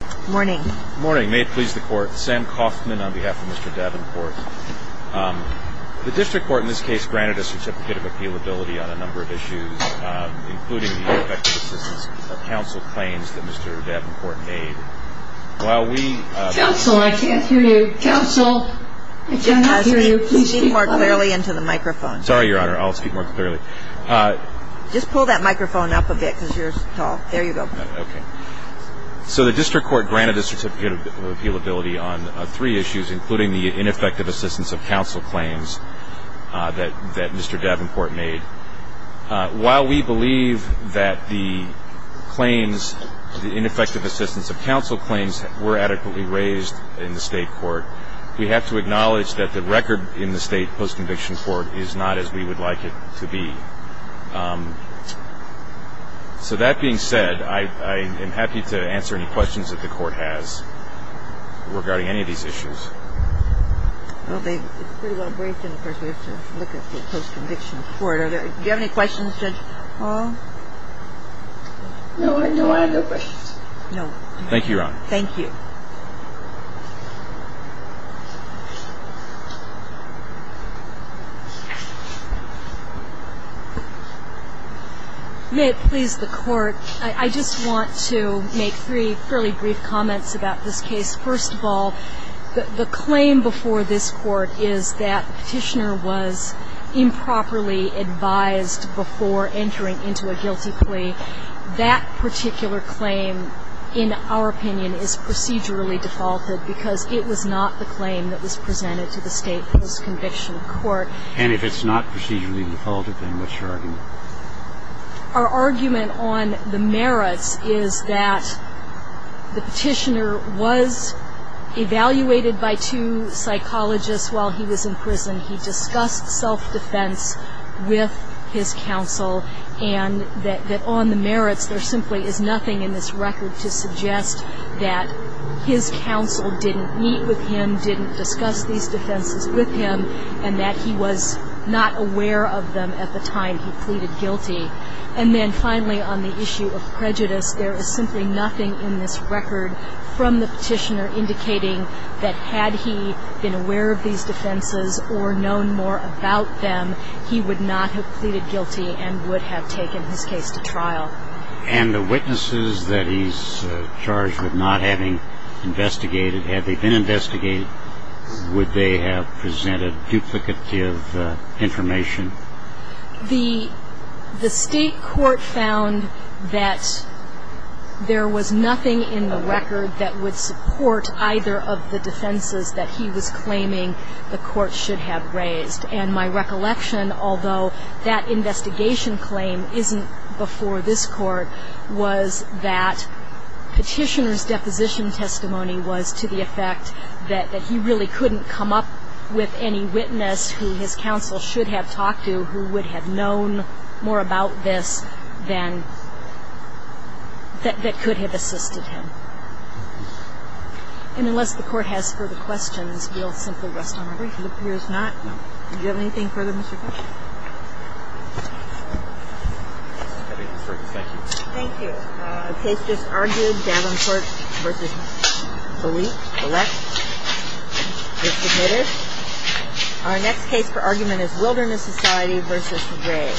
Good morning. May it please the court, Sam Kaufman on behalf of Mr. Davenport. The district court in this case granted a certificate of appealability on a number of issues, including the effective assistance of counsel claims that Mr. Davenport made. Counsel, I can't hear you. Counsel, I can't hear you. Please speak more clearly into the microphone. Sorry, Your Honor. I'll speak more clearly. Just pull that microphone up a bit because you're tall. There you go. Okay. So the district court granted a certificate of appealability on three issues, including the ineffective assistance of counsel claims that Mr. Davenport made. While we believe that the claims, the ineffective assistance of counsel claims, were adequately raised in the state court, we have to acknowledge that the record in the state post-conviction court is not as we would like it to be. So that being said, I am happy to answer any questions that the court has regarding any of these issues. Well, it's pretty well briefed and, of course, we have to look at the post-conviction court. Do you have any questions, Judge Hall? No, I don't have any questions. No. Thank you, Your Honor. Thank you. May it please the Court, I just want to make three fairly brief comments about this case. First of all, the claim before this Court is that Petitioner was improperly advised before entering into a guilty plea. That particular claim, in our opinion, is procedurally defaulted because it was not the claim that was presented to the state post-conviction court. And if it's not procedurally defaulted, then what's your argument? Our argument on the merits is that the Petitioner was evaluated by two psychologists while he was in prison. He discussed self-defense with his counsel, and that on the merits there simply is nothing in this record to suggest that his counsel didn't meet with him, didn't discuss these defenses with him, and that he was not aware of them at the time he pleaded guilty. And then, finally, on the issue of prejudice, there is simply nothing in this record from the Petitioner indicating that had he been aware of these defenses or known more about them, he would not have pleaded guilty and would have taken his case to trial. And the witnesses that he's charged with not having investigated, had they been investigated, would they have presented duplicative information? The State court found that there was nothing in the record that would support either of the defenses that he was claiming the court should have raised. And my recollection, although that investigation claim isn't before this Court, was that Petitioner's deposition testimony was to the effect that he really couldn't come up with any witness who his counsel should have talked to who would have known more about this than that could have assisted him. And unless the Court has further questions, we'll simply rest on our breaks. It appears not. No. Do you have anything further, Mr. Fisher? Thank you. Thank you. The case just argued, Davenport v. Bollett, is submitted. Our next case for argument is Wilderness Society v. Ray.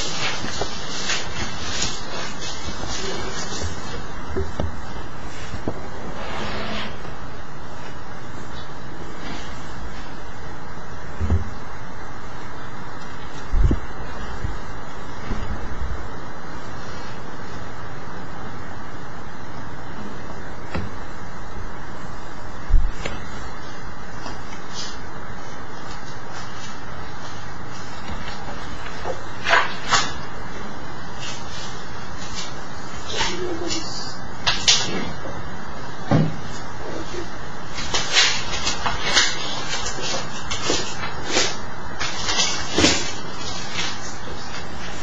Thank you.